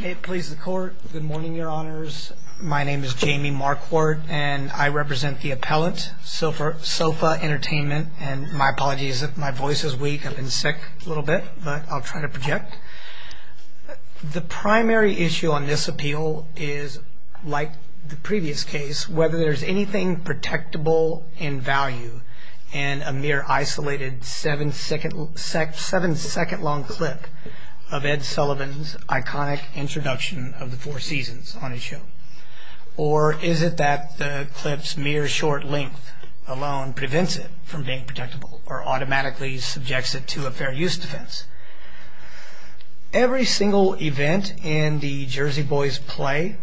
May it please the Court, good morning, Your Honors. My name is Jamie Marquardt, and I represent the appellant, Sofa Entertainment, and my apologies if my voice is weak, I've been sick a little bit, but I'll try to project. The primary issue on this appeal is, like the previous case, whether there's anything protectable in value in a mere isolated seven-second-long clip of Ed Sullivan's iconic introduction of the Four Seasons on his show, or is it that the clip's mere short length alone prevents it from being protectable or automatically subjects it to a fair use defense? Every single event in the Jersey Boys' play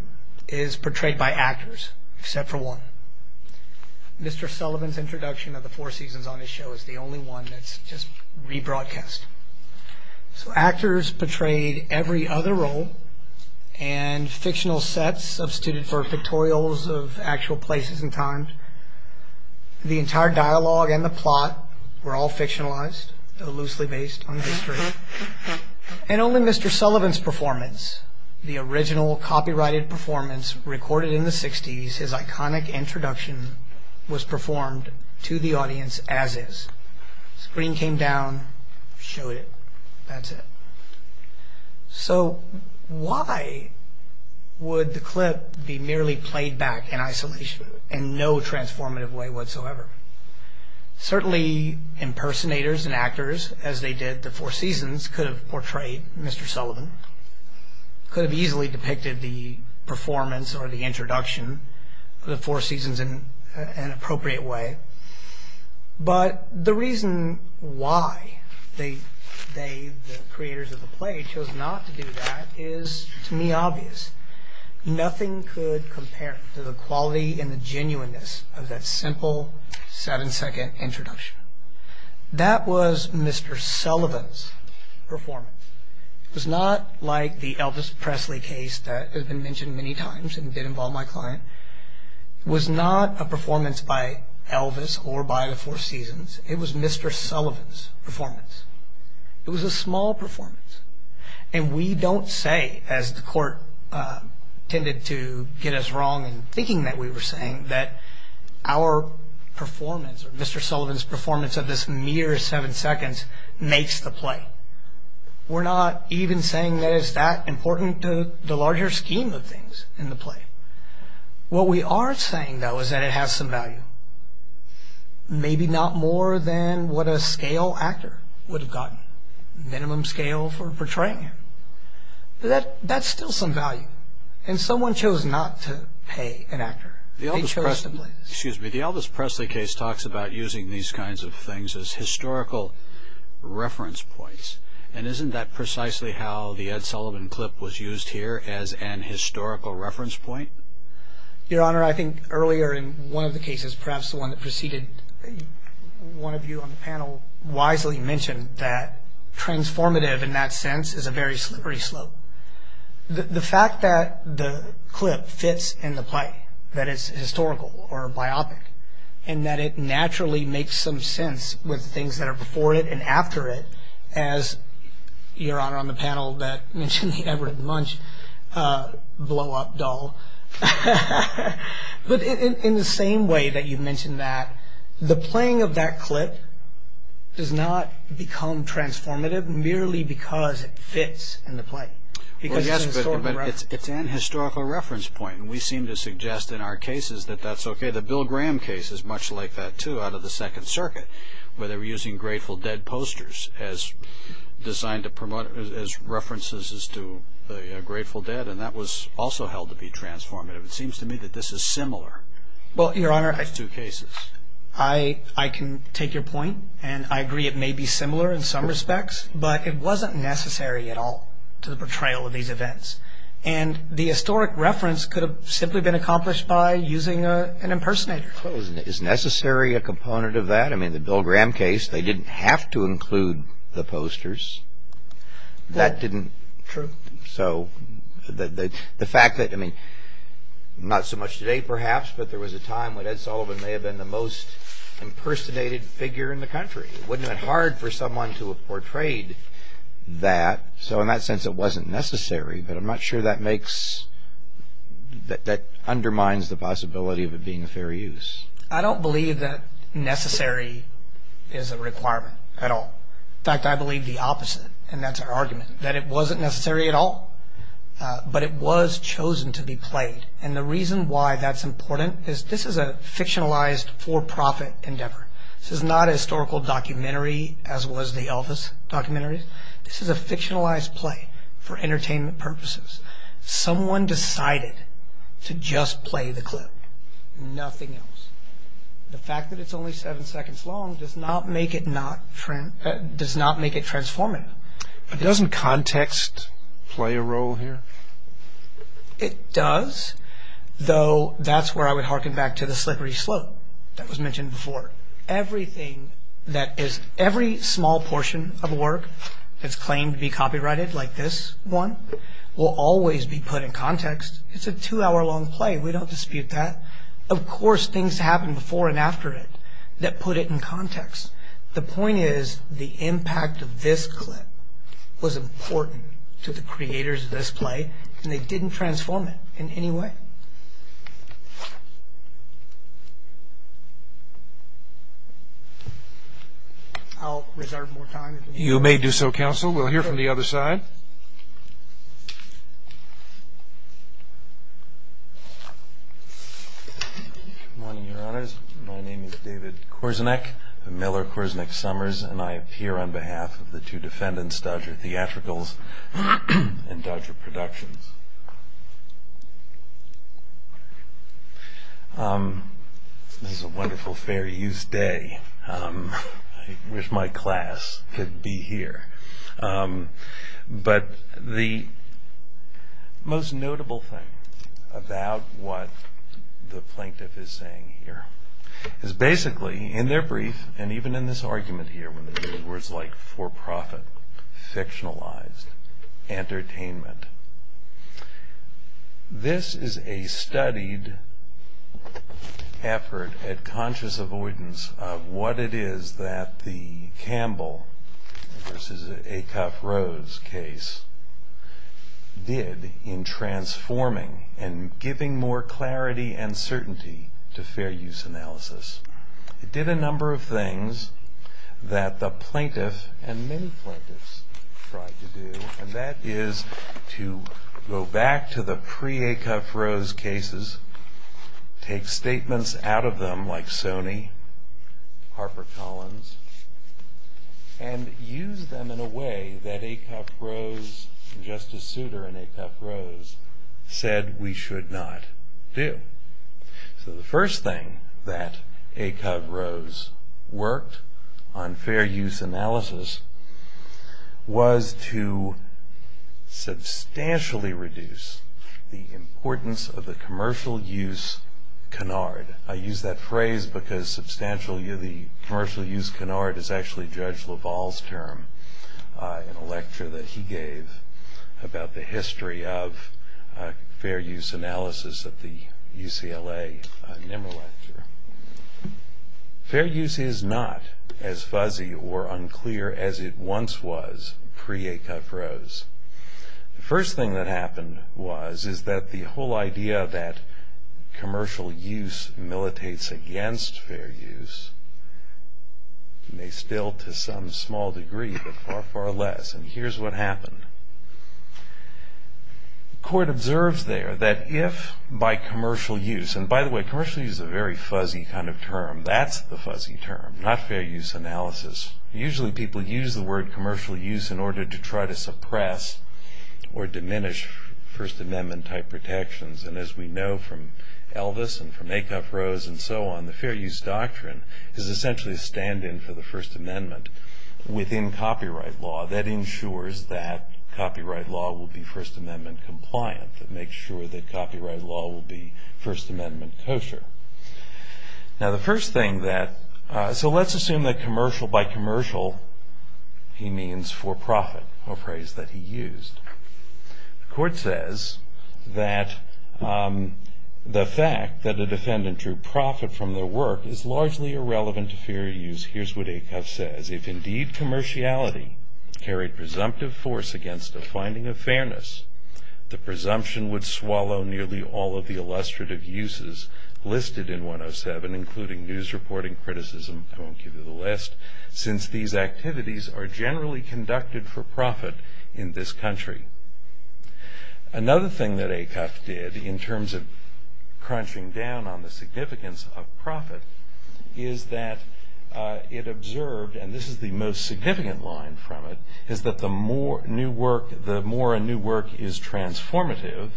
is portrayed by actors, except for one. Mr. Sullivan's introduction of the Four Seasons on his show is the only one that's just re-broadcast. So, actors portrayed every other role, and fictional sets substituted for pictorials of actual places and times. The entire dialogue and the plot were all fictionalized, though loosely based on history. And only Mr. Sullivan's performance, the original copyrighted performance recorded in the 60s, his iconic introduction, was performed to the audience as is. Screen came down, showed it, that's it. So, why would the clip be merely played back in isolation, in no transformative way whatsoever? Certainly, impersonators and actors, as they did the Four Seasons, could have portrayed Mr. Sullivan, could have easily depicted the performance or the introduction of the Four Seasons in an appropriate way. But the reason why they, the creators of the play, chose not to do that is, to me, obvious. Nothing could compare to the quality and the genuineness of that simple, second introduction. That was Mr. Sullivan's performance. It was not like the Elvis Presley case that has been mentioned many times and did involve my client. It was not a performance by Elvis or by the Four Seasons. It was Mr. Sullivan's performance. It was a small performance. And we don't say, as the court tended to get us wrong in thinking that we were saying, that our performance or Mr. Sullivan's performance of this mere seven seconds makes the play. We're not even saying that it's that important to the larger scheme of things in the play. What we are saying, though, is that it has some value. Maybe not more than what a scale actor would have gotten, minimum scale for portraying him. That's still some value. And someone chose not to pay an actor. They chose to play this. Excuse me. The Elvis Presley case talks about using these kinds of things as historical reference points. And isn't that precisely how the Ed Sullivan clip was used here, as an historical reference point? Your Honor, I think earlier in one of the cases, perhaps the one that preceded one of you on the panel, wisely mentioned that transformative in that sense is a very slippery slope. The fact that the clip fits in the play, that it's historical or biopic, and that it naturally makes some sense with things that are before it and after it, as Your Honor on the panel that mentioned the Everett Munch blow-up doll. But in the same way that you mentioned that, the playing of that clip does not become transformative merely because it fits in the play. Yes, but it's an historical reference point. And we seem to suggest in our cases that that's okay. The Bill Graham case is much like that, too, out of the Second Circuit, where they were using Grateful Dead posters as references to Grateful Dead. And that was also held to be transformative. It seems to me that this is similar in those two cases. Well, Your Honor, I can take your point. And I agree it may be similar in some respects, but it wasn't necessary at all to the portrayal of these events. And the historic reference could have simply been accomplished by using an impersonator. Well, is necessary a component of that? I mean, the Bill Graham case, they didn't have to include the posters. That didn't. True. So the fact that, I mean, not so much today perhaps, but there was a time when Ed Sullivan may have been the most impersonated figure in the country. Wouldn't it have been hard for someone to have portrayed that? So in that sense, it wasn't necessary. But I'm not sure that makes – that undermines the possibility of it being a fair use. I don't believe that necessary is a requirement at all. In fact, I believe the opposite. And that's our argument, that it wasn't necessary at all. But it was chosen to be played. And the reason why that's important is this is a fictionalized for-profit endeavor. This is not a historical documentary as was the Elvis documentary. This is a fictionalized play for entertainment purposes. Someone decided to just play the clip. Nothing else. The fact that it's only seven seconds long does not make it transformative. Doesn't context play a role here? It does, though that's where I would hearken back to the slippery slope that was mentioned before. Everything that is – every small portion of work that's claimed to be copyrighted, like this one, will always be put in context. It's a two-hour-long play. We don't dispute that. Of course things happen before and after it that put it in context. The point is the impact of this clip was important to the creators of this play, and they didn't transform it in any way. I'll reserve more time. You may do so, Counsel. We'll hear from the other side. Good morning, Your Honors. My name is David Korzenek of Miller-Korzenek-Sommers, and I appear on behalf of the two defendants, Dodger Theatricals and Dodger Productions. It's a wonderful, fair use day. I wish my class could be here. But the most notable thing about what the plaintiff is saying here is basically, in their brief, and even in this argument here, when they use words like for-profit, fictionalized, entertainment, this is a studied effort at conscious avoidance of what it is that the Campbell v. Acuff-Rhodes case did in transforming and giving more clarity and certainty to fair use analysis. It did a number of things that the plaintiff and many plaintiffs tried to do, and that is to go back to the pre-Acuff-Rhodes cases, take statements out of them like Sony, HarperCollins, and use them in a way that Acuff-Rhodes and Justice Souter and Acuff-Rhodes said we should not do. So the first thing that Acuff-Rhodes worked on fair use analysis was to substantially reduce the importance of the commercial use canard. I use that phrase because the commercial use canard is actually Judge LaValle's term in a lecture that he gave about the history of fair use analysis at the UCLA NIMRA lecture. Fair use is not as fuzzy or unclear as it once was pre-Acuff-Rhodes. The first thing that happened was is that the whole idea that commercial use militates against fair use may still to some small degree but far, far less, and here's what happened. The court observes there that if by commercial use, and by the way commercial use is a very fuzzy kind of term. That's the fuzzy term, not fair use analysis. Usually people use the word commercial use in order to try to suppress or diminish First Amendment-type protections, and as we know from Elvis and from Acuff-Rhodes and so on, the fair use doctrine is essentially a stand-in for the First Amendment within copyright law that ensures that copyright law will be First Amendment compliant, that makes sure that copyright law will be First Amendment kosher. Now the first thing that, so let's assume that commercial by commercial, he means for profit, a phrase that he used. The court says that the fact that a defendant drew profit from their work is largely irrelevant to fair use. Here's what Acuff says. If indeed commerciality carried presumptive force against a finding of fairness, the presumption would swallow nearly all of the illustrative uses listed in 107, including news reporting, criticism, I won't give you the list, since these activities are generally conducted for profit in this country. Another thing that Acuff did in terms of crunching down on the significance of profit is that it observed, and this is the most significant line from it, is that the more a new work is transformative,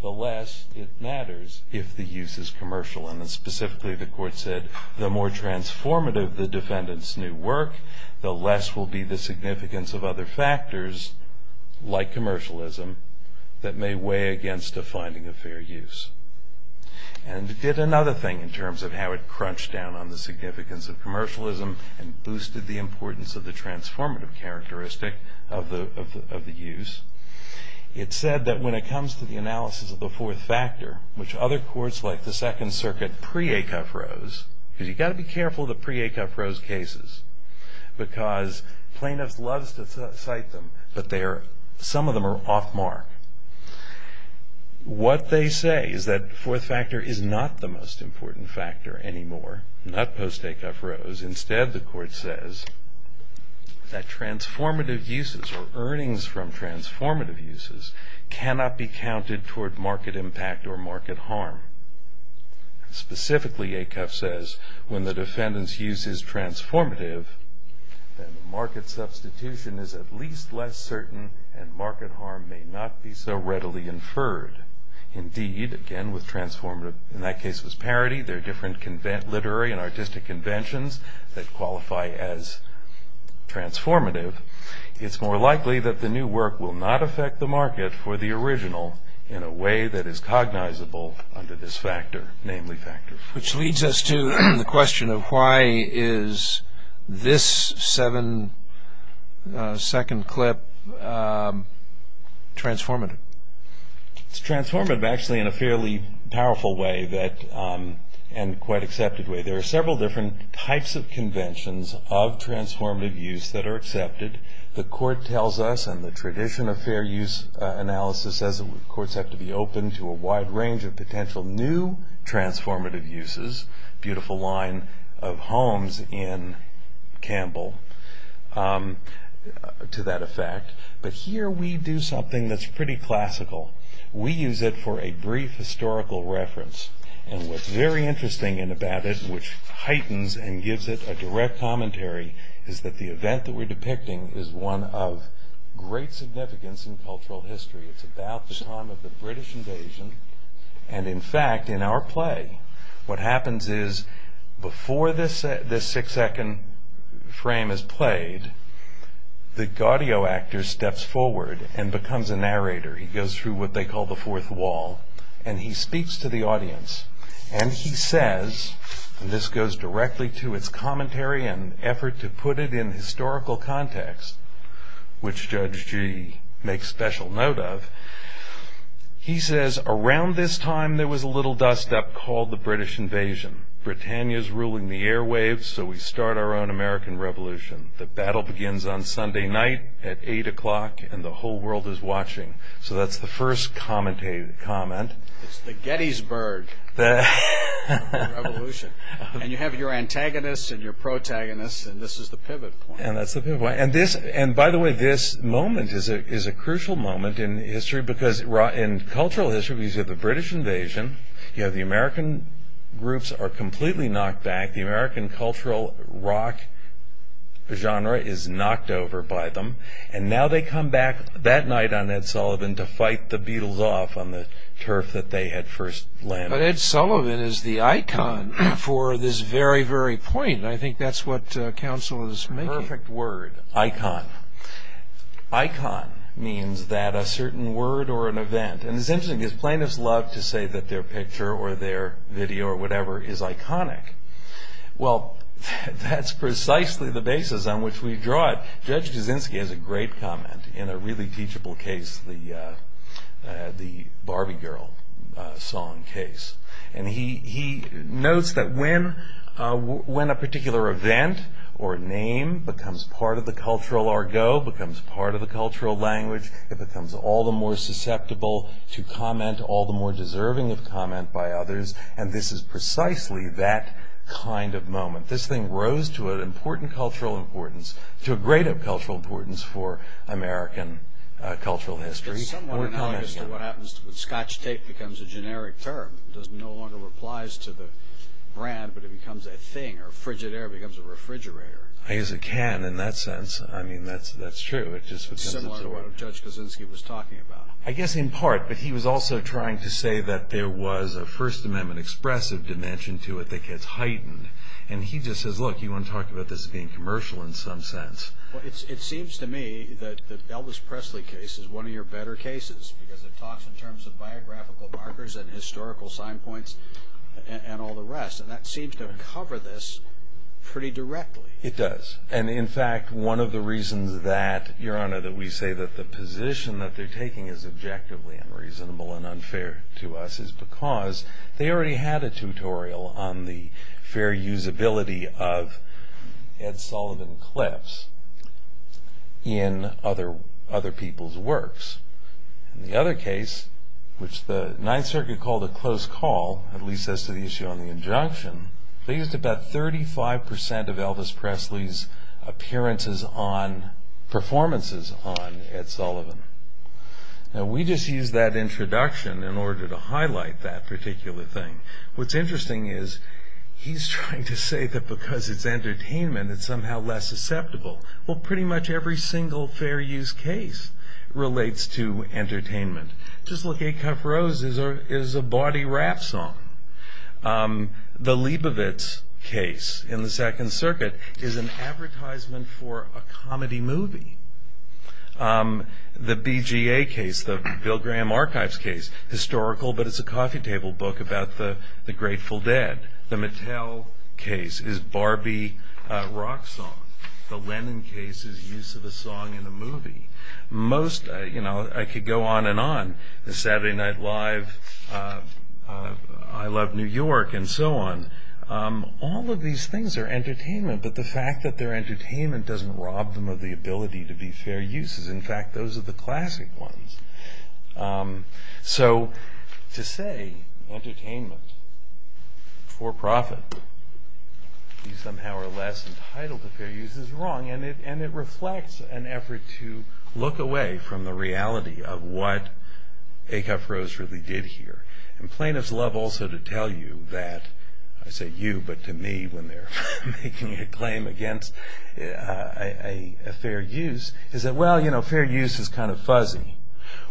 the less it matters if the use is commercial, and specifically the court said the more transformative the defendant's new work, the less will be the significance of other factors, like commercialism, that may weigh against a finding of fair use. And it did another thing in terms of how it crunched down on the significance of commercialism and boosted the importance of the transformative characteristic of the use. It said that when it comes to the analysis of the fourth factor, which other courts like the Second Circuit pre-Acuff-Rose, because you've got to be careful of the pre-Acuff-Rose cases, because plaintiffs love to cite them, but some of them are off mark. What they say is that the fourth factor is not the most important factor anymore, not post-Acuff-Rose. Instead, the court says that transformative uses or earnings from transformative uses cannot be counted toward market impact or market harm. Specifically, Acuff says, when the defendant's use is transformative, then the market substitution is at least less certain and market harm may not be so readily inferred. Indeed, again, with transformative, in that case it was parity, there are different literary and artistic conventions that qualify as transformative. It's more likely that the new work will not affect the market for the original in a way that is cognizable under this factor, namely factors. Which leads us to the question of why is this second clip transformative? It's transformative actually in a fairly powerful way and quite accepted way. There are several different types of conventions of transformative use that are accepted. The court tells us in the tradition of fair use analysis, courts have to be open to a wide range of potential new transformative uses, beautiful line of Holmes in Campbell to that effect. Here we do something that's pretty classical. We use it for a brief historical reference. What's very interesting about it, which heightens and gives it a direct commentary, is that the event that we're depicting is one of great significance in cultural history. It's about the time of the British invasion. In fact, in our play, what happens is before this six-second frame is played, the gaudio actor steps forward and becomes a narrator. He goes through what they call the fourth wall, and he speaks to the audience. He says, and this goes directly to its commentary and effort to put it in historical context, which Judge Gee makes special note of, he says, around this time there was a little dust-up called the British invasion. Britannia's ruling the airwaves, so we start our own American revolution. The battle begins on Sunday night at 8 o'clock, and the whole world is watching. So that's the first comment. It's the Gettysburg revolution. You have your antagonists and your protagonists, and this is the pivot point. That's the pivot point. By the way, this moment is a crucial moment in history because in cultural history we have the British invasion. You have the American groups are completely knocked back. The American cultural rock genre is knocked over by them, and now they come back that night on Ed Sullivan to fight the Beatles off on the turf that they had first landed. But Ed Sullivan is the icon for this very, very point, and I think that's what counsel is making. Perfect word. Icon means that a certain word or an event, and it's interesting because plaintiffs love to say that their picture or their video or whatever is iconic. Well, that's precisely the basis on which we draw it. Judge Kaczynski has a great comment in a really teachable case, the Barbie Girl song case, and he notes that when a particular event or name becomes part of the cultural argo, becomes part of the cultural language, it becomes all the more susceptible to comment, all the more deserving of comment by others, and this is precisely that kind of moment. This thing rose to an important cultural importance, to a greater cultural importance for American cultural history. It's somewhat analogous to what happens when Scotch tape becomes a generic term. It no longer applies to the brand, but it becomes a thing, or frigid air becomes a refrigerator. I guess it can in that sense. I mean, that's true. It's similar to what Judge Kaczynski was talking about. I guess in part, but he was also trying to say that there was a First Amendment expressive dimension to it that gets heightened, and he just says, look, you want to talk about this being commercial in some sense. It seems to me that the Elvis Presley case is one of your better cases because it talks in terms of biographical markers and historical sign points and all the rest, and that seems to cover this pretty directly. It does, and in fact, one of the reasons that, Your Honor, that we say that the position that they're taking is objectively unreasonable and unfair to us is because they already had a tutorial on the fair usability of Ed Sullivan clips in other people's works. In the other case, which the Ninth Circuit called a close call, at least as to the issue on the injunction, they used about 35% of Elvis Presley's performances on Ed Sullivan. Now, we just used that introduction in order to highlight that particular thing. What's interesting is he's trying to say that because it's entertainment, it's somehow less susceptible. Well, pretty much every single fair use case relates to entertainment. Just look, A Cup Roses is a bawdy rap song. The Leibovitz case in the Second Circuit is an advertisement for a comedy movie. The BGA case, the Bill Graham Archives case, historical but it's a coffee table book about the Grateful Dead. The Mattel case is Barbie rock song. The Lennon case is use of a song in a movie. Most, you know, I could go on and on. The Saturday Night Live, I Love New York, and so on. All of these things are entertainment, but the fact that they're entertainment doesn't rob them of the ability to be fair uses. In fact, those are the classic ones. So, to say entertainment, for profit, you somehow are less entitled to fair use is wrong. And it reflects an effort to look away from the reality of what A Cup Roses really did here. And plaintiffs love also to tell you that, I say you, but to me when they're making a claim against a fair use, is that, well, you know, fair use is kind of fuzzy.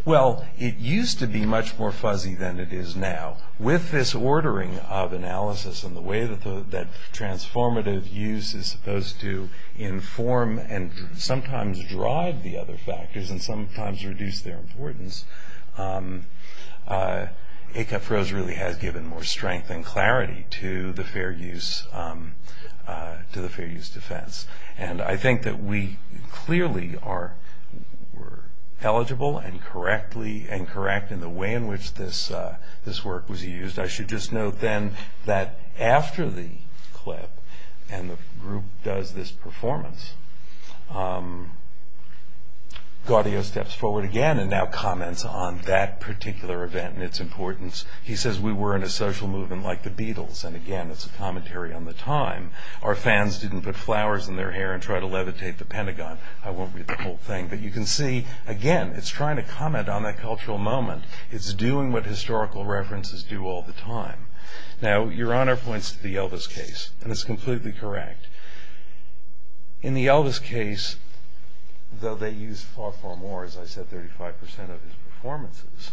Well, it used to be much more fuzzy than it is now. With this ordering of analysis and the way that transformative use is supposed to inform and sometimes drive the other factors and sometimes reduce their importance, A Cup Roses really has given more strength and clarity to the fair use defense. And I think that we clearly are eligible and correct in the way in which this work was used. I should just note then that after the clip and the group does this performance, Gaudio steps forward again and now comments on that particular event and its importance. He says, we were in a social movement like the Beatles. And again, it's a commentary on the time. Our fans didn't put flowers in their hair and try to levitate the Pentagon. I won't read the whole thing. But you can see, again, it's trying to comment on that cultural moment. It's doing what historical references do all the time. Now, Your Honor points to the Elvis case, and it's completely correct. In the Elvis case, though they used far, far more, as I said, 35% of his performances,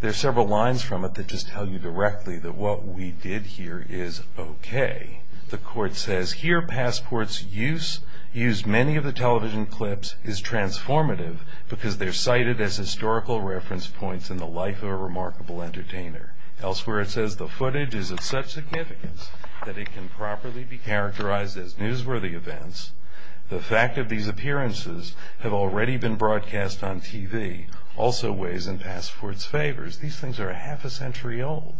there are several lines from it that just tell you directly that what we did here is okay. The court says, here, Passport's use, used many of the television clips, is transformative because they're cited as historical reference points in the life of a remarkable entertainer. Elsewhere, it says, the footage is of such significance that it can properly be characterized as newsworthy events. The fact that these appearances have already been broadcast on TV also weighs in Passport's favors. These things are half a century old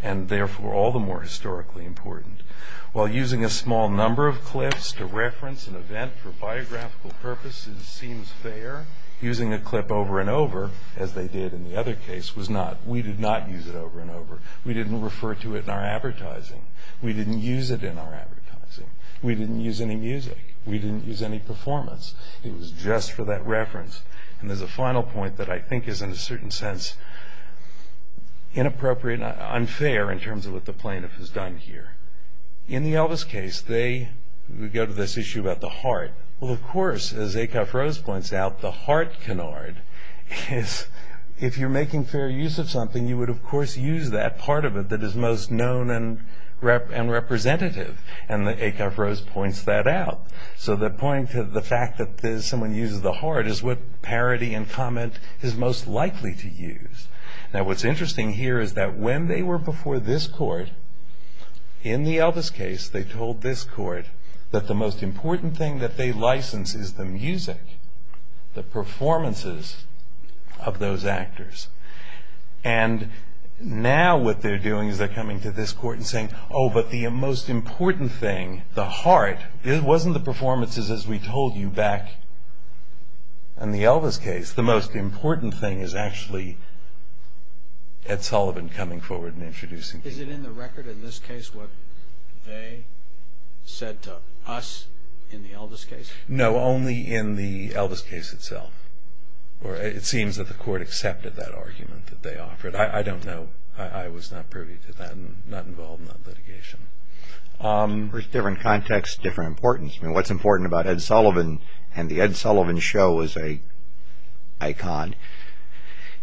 and, therefore, all the more historically important. While using a small number of clips to reference an event for biographical purposes seems fair, using a clip over and over, as they did in the other case, was not. We did not use it over and over. We didn't refer to it in our advertising. We didn't use it in our advertising. We didn't use any music. We didn't use any performance. It was just for that reference. And there's a final point that I think is, in a certain sense, inappropriate and unfair in terms of what the plaintiff has done here. In the Elvis case, we go to this issue about the heart. Well, of course, as Acuff-Rose points out, the heart canard is, if you're making fair use of something, you would, of course, use that part of it that is most known and representative. And Acuff-Rose points that out. So the point to the fact that someone uses the heart is what parody and comment is most likely to use. Now, what's interesting here is that when they were before this court, in the Elvis case, they told this court that the most important thing that they license is the music, the performances of those actors. And now what they're doing is they're coming to this court and saying, oh, but the most important thing, the heart, wasn't the performances, as we told you back in the Elvis case. The most important thing is actually Ed Sullivan coming forward and introducing it. Is it in the record in this case what they said to us in the Elvis case? No, only in the Elvis case itself. It seems that the court accepted that argument that they offered. But I don't know. I was not privy to that and not involved in that litigation. There's different contexts, different importance. I mean, what's important about Ed Sullivan and the Ed Sullivan show as a icon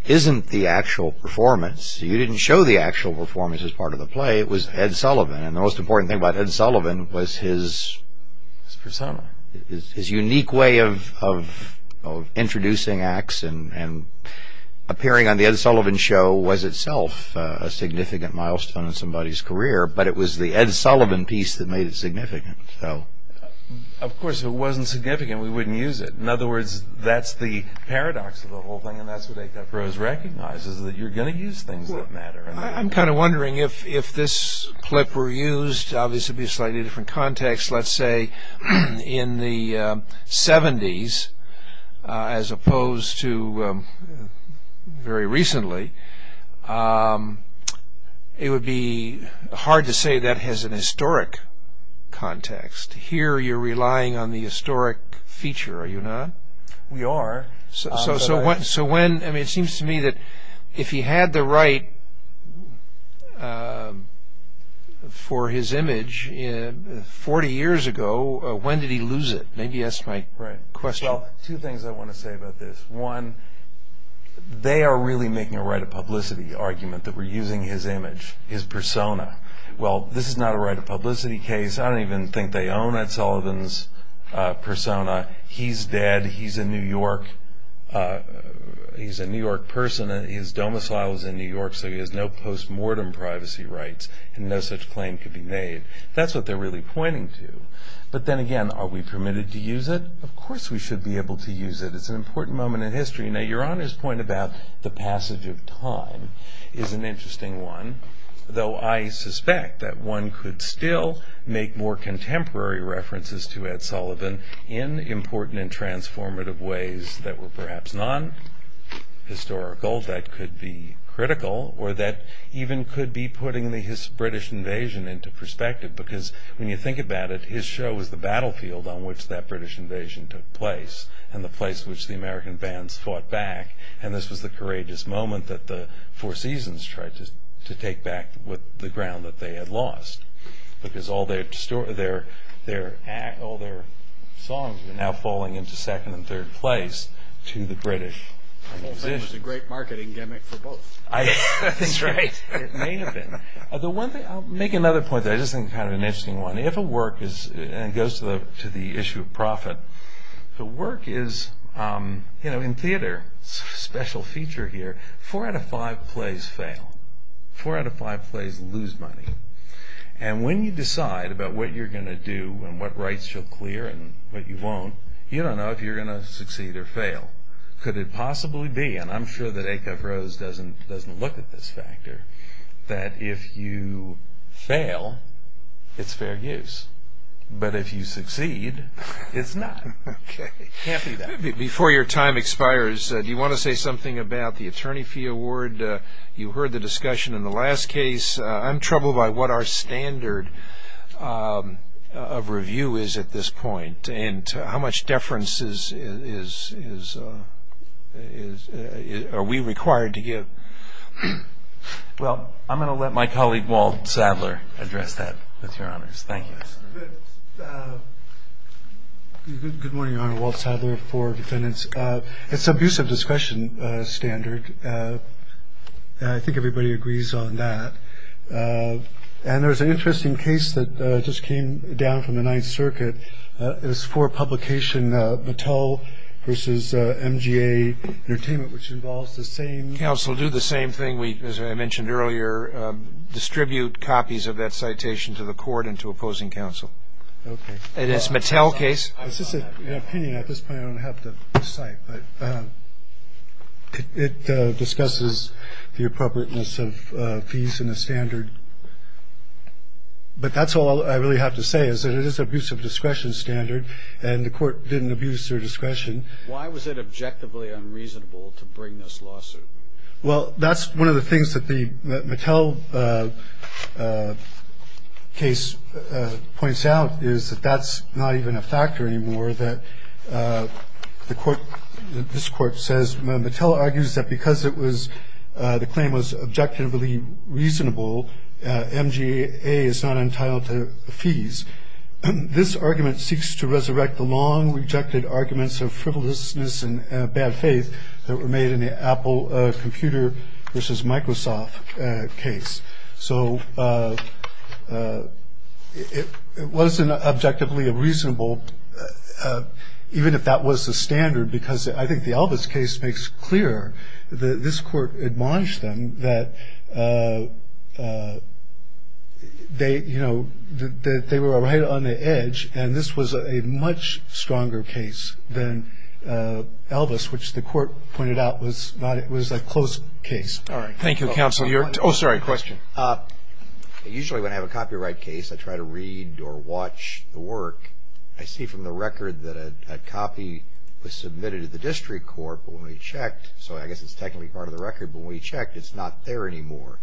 isn't the actual performance. You didn't show the actual performance as part of the play. It was Ed Sullivan. And the most important thing about Ed Sullivan was his... His persona. His unique way of introducing acts and appearing on the Ed Sullivan show was itself a significant milestone in somebody's career. But it was the Ed Sullivan piece that made it significant. Of course, if it wasn't significant, we wouldn't use it. In other words, that's the paradox of the whole thing. And that's what A.F. Rose recognizes, that you're going to use things that matter. I'm kind of wondering if this clip were used... in a variety of different contexts. Let's say in the 70s, as opposed to very recently, it would be hard to say that has an historic context. Here, you're relying on the historic feature, are you not? We are. It seems to me that if he had the right for his image 40 years ago, when did he lose it? Maybe that's my question. Two things I want to say about this. One, they are really making a right of publicity argument that we're using his image, his persona. Well, this is not a right of publicity case. I don't even think they own Ed Sullivan's persona. He's dead. He's a New York person. His domicile is in New York, so he has no post-mortem privacy rights, and no such claim could be made. That's what they're really pointing to. But then again, are we permitted to use it? Of course we should be able to use it. It's an important moment in history. Now, Your Honor's point about the passage of time is an interesting one, though I suspect that one could still make more contemporary references to Ed Sullivan in important and transformative ways that were perhaps non-historical. That could be critical, or that even could be putting his British invasion into perspective, because when you think about it, his show was the battlefield on which that British invasion took place and the place which the American bands fought back, and this was the courageous moment that the Four Seasons tried to take back with the ground that they had lost, because all their songs were now falling into second and third place to the British. I don't think it was a great marketing gimmick for both. That's right. It may have been. I'll make another point that I just think is kind of an interesting one. If a work goes to the issue of profit, the work is, you know, in theater, special feature here, four out of five plays fail. Four out of five plays lose money. And when you decide about what you're going to do and what rights you'll clear and what you won't, you don't know if you're going to succeed or fail. Could it possibly be, and I'm sure that Acove Rose doesn't look at this factor, that if you fail, it's fair use, but if you succeed, it's not. Okay. Can't be that. Before your time expires, do you want to say something about the Attorney Fee Award? You heard the discussion in the last case. I'm troubled by what our standard of review is at this point and how much deference are we required to give. Well, I'm going to let my colleague Walt Sadler address that, with your honors. Thank you. Good morning, Your Honor. Walt Sadler for defendants. It's an abusive discretion standard. I think everybody agrees on that. And there's an interesting case that just came down from the Ninth Circuit. It's for publication, Mattel v. MGA Entertainment, which involves the same. Counsel, do the same thing we, as I mentioned earlier, distribute copies of that citation to the court and to opposing counsel. Okay. And it's Mattel case. It's just an opinion at this point. I don't have the site. But it discusses the appropriateness of fees in the standard. But that's all I really have to say, is that it is an abusive discretion standard, and the court didn't abuse their discretion. Why was it objectively unreasonable to bring this lawsuit? Well, that's one of the things that the Mattel case points out, is that that's not even a factor anymore. This court says, Mattel argues that because the claim was objectively reasonable, MGA is not entitled to fees. This argument seeks to resurrect the long-rejected arguments of frivolousness and bad faith that were made in the Apple Computer v. Microsoft case. So it wasn't objectively reasonable, even if that was the standard, because I think the Elvis case makes clear that this court admonished them that they were right on the edge, and this was a much stronger case than Elvis, which the court pointed out was a close case. All right. Thank you, counsel. Oh, sorry, question. Usually when I have a copyright case, I try to read or watch the work. I see from the record that a copy was submitted to the district court, but when we checked, so I guess it's technically part of the record, but when we checked, it's not there anymore.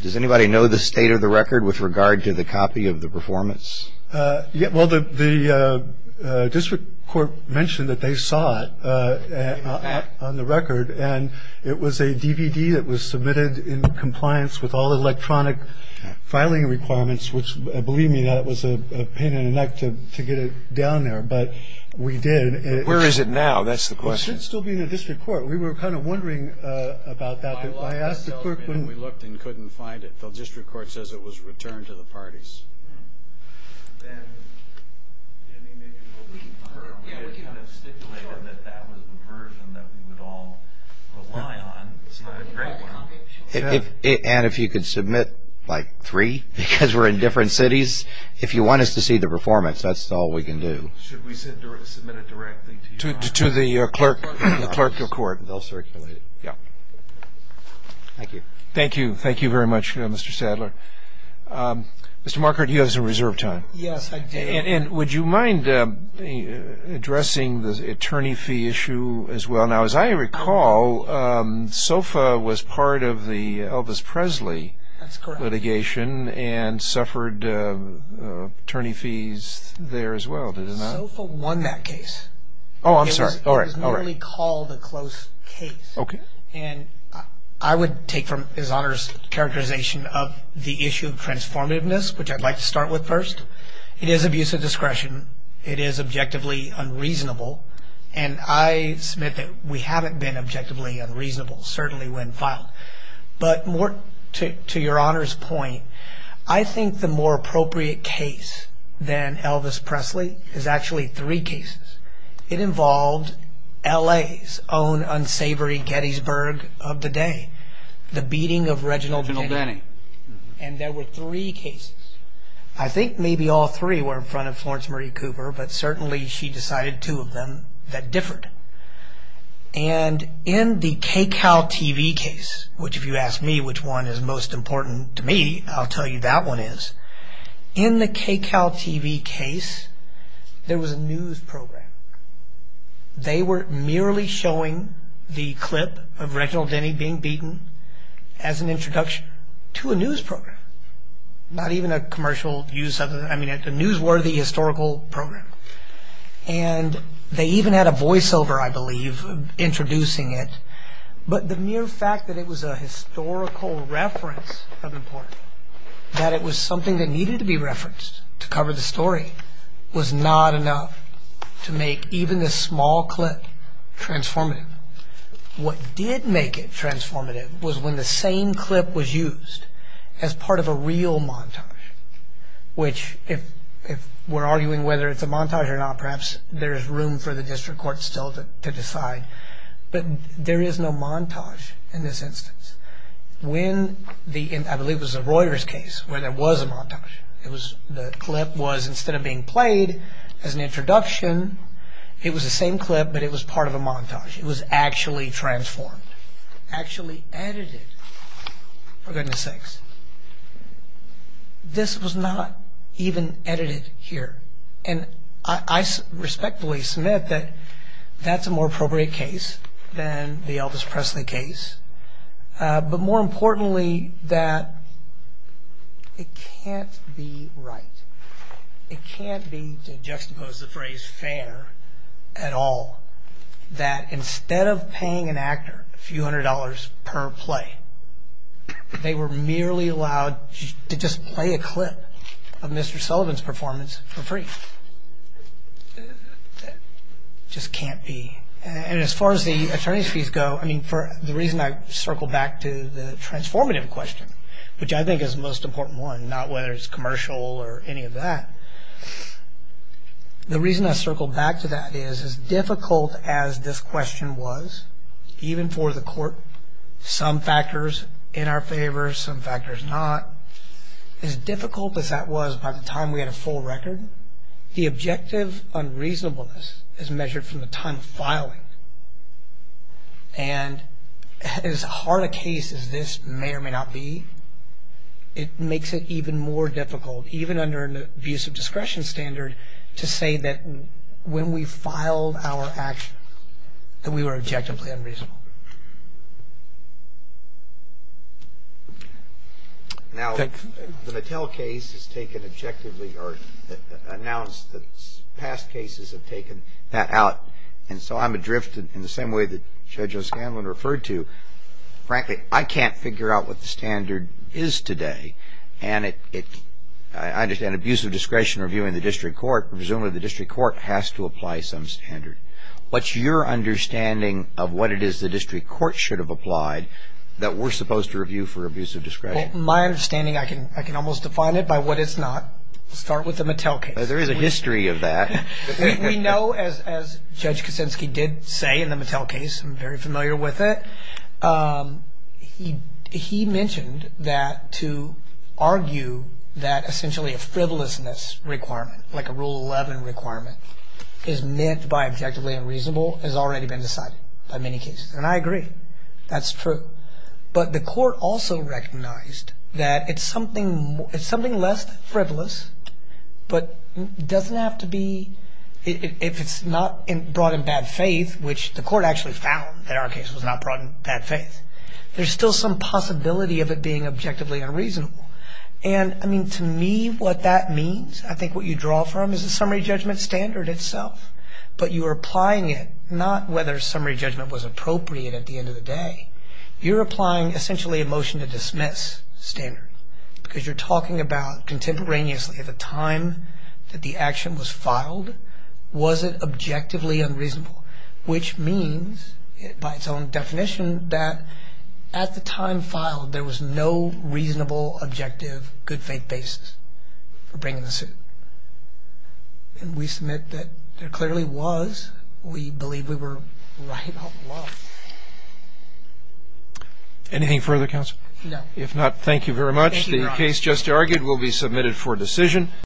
Does anybody know the state of the record with regard to the copy of the performance? Well, the district court mentioned that they saw it on the record, and it was a DVD that was submitted in compliance with all electronic filing requirements, which believe me, that was a pain in the neck to get it down there, but we did. Where is it now? That's the question. It should still be in the district court. We were kind of wondering about that. I asked the clerk when we looked and couldn't find it. The district court says it was returned to the parties. And if you could submit, like, three, because we're in different cities, if you want us to see the performance, that's all we can do. Should we submit it directly to you? To the clerk of court. They'll circulate it. Yeah. Thank you. Thank you. Mr. Marker, do you have a question? No, I don't. Okay. Richard, you have some reserve time. Yes, I do. And would you mind addressing the attorney fee issue as well? Now, as I recall, SOFA was part of the Elvis Presley litigation and suffered attorney fees there as well, did it not? SOFA won that case. Oh, I'm sorry. All right, all right. It was merely called a close case. Okay. And I would take from His Honor's characterization of the issue of transformativeness, which I'd like to start with first, it is abuse of discretion, it is objectively unreasonable, and I submit that we haven't been objectively unreasonable, certainly when filed. But more to Your Honor's point, I think the more appropriate case than Elvis Presley is actually three cases. It involved L.A.'s own unsavory Gettysburg of the day, the beating of Reginald Benny. And there were three cases. I think maybe all three were in front of Florence Marie Cooper, but certainly she decided two of them that differed. And in the KCAL TV case, which if you ask me which one is most important to me, I'll tell you that one is. In the KCAL TV case, there was a news program. They were merely showing the clip of Reginald Benny being beaten as an introduction to a news program, not even a commercial use of it, I mean a newsworthy historical program. And they even had a voiceover, I believe, introducing it. But the mere fact that it was a historical reference of importance, that it was something that needed to be referenced to cover the story, was not enough to make even this small clip transformative. What did make it transformative was when the same clip was used as part of a real montage, which if we're arguing whether it's a montage or not, perhaps there is room for the district court still to decide. But there is no montage in this instance. The clip was, instead of being played as an introduction, it was the same clip but it was part of a montage. It was actually transformed, actually edited. For goodness sakes. This was not even edited here. And I respectfully submit that that's a more appropriate case than the Elvis Presley case. But more importantly, that it can't be right. It can't be, to juxtapose the phrase, fair at all, that instead of paying an actor a few hundred dollars per play, they were merely allowed to just play a clip of Mr. Sullivan's performance for free. Just can't be. And as far as the attorney's fees go, the reason I circle back to the transformative question, which I think is the most important one, not whether it's commercial or any of that, the reason I circle back to that is, as difficult as this question was, even for the court, some factors in our favor, some factors not, as difficult as that was by the time we had a full record, the objective unreasonableness is measured from the time of filing. And as hard a case as this may or may not be, it makes it even more difficult, even under an abusive discretion standard, to say that when we filed our actions, that we were objectively unreasonable. Now, the Mattel case has taken objectively or announced that past cases have taken that out, and so I'm adrift in the same way that Judge O'Scanlan referred to. Frankly, I can't figure out what the standard is today, and I understand abusive discretion review in the district court, presumably the district court has to apply some standard. My understanding, I can almost define it by what it's not. Start with the Mattel case. There is a history of that. We know, as Judge Kosinski did say in the Mattel case, I'm very familiar with it, he mentioned that to argue that essentially a frivolousness requirement, like a Rule 11 requirement, is meant by objectively unreasonable, has already been decided by many cases. And I agree. That's true. But the court also recognized that it's something less than frivolous, but doesn't have to be, if it's not brought in bad faith, which the court actually found that our case was not brought in bad faith, there's still some possibility of it being objectively unreasonable. And, I mean, to me, what that means, I think what you draw from is the summary judgment standard itself, but you're applying it, not whether summary judgment was appropriate at the end of the day, you're applying essentially a motion to dismiss standard, because you're talking about contemporaneously, at the time that the action was filed, was it objectively unreasonable, which means, by its own definition, that at the time filed there was no reasonable, objective, good faith basis for bringing the suit. And we submit that there clearly was. We believe we were right all along. Anything further, counsel? No. If not, thank you very much. Thank you, Your Honor. The case just argued will be submitted for decision.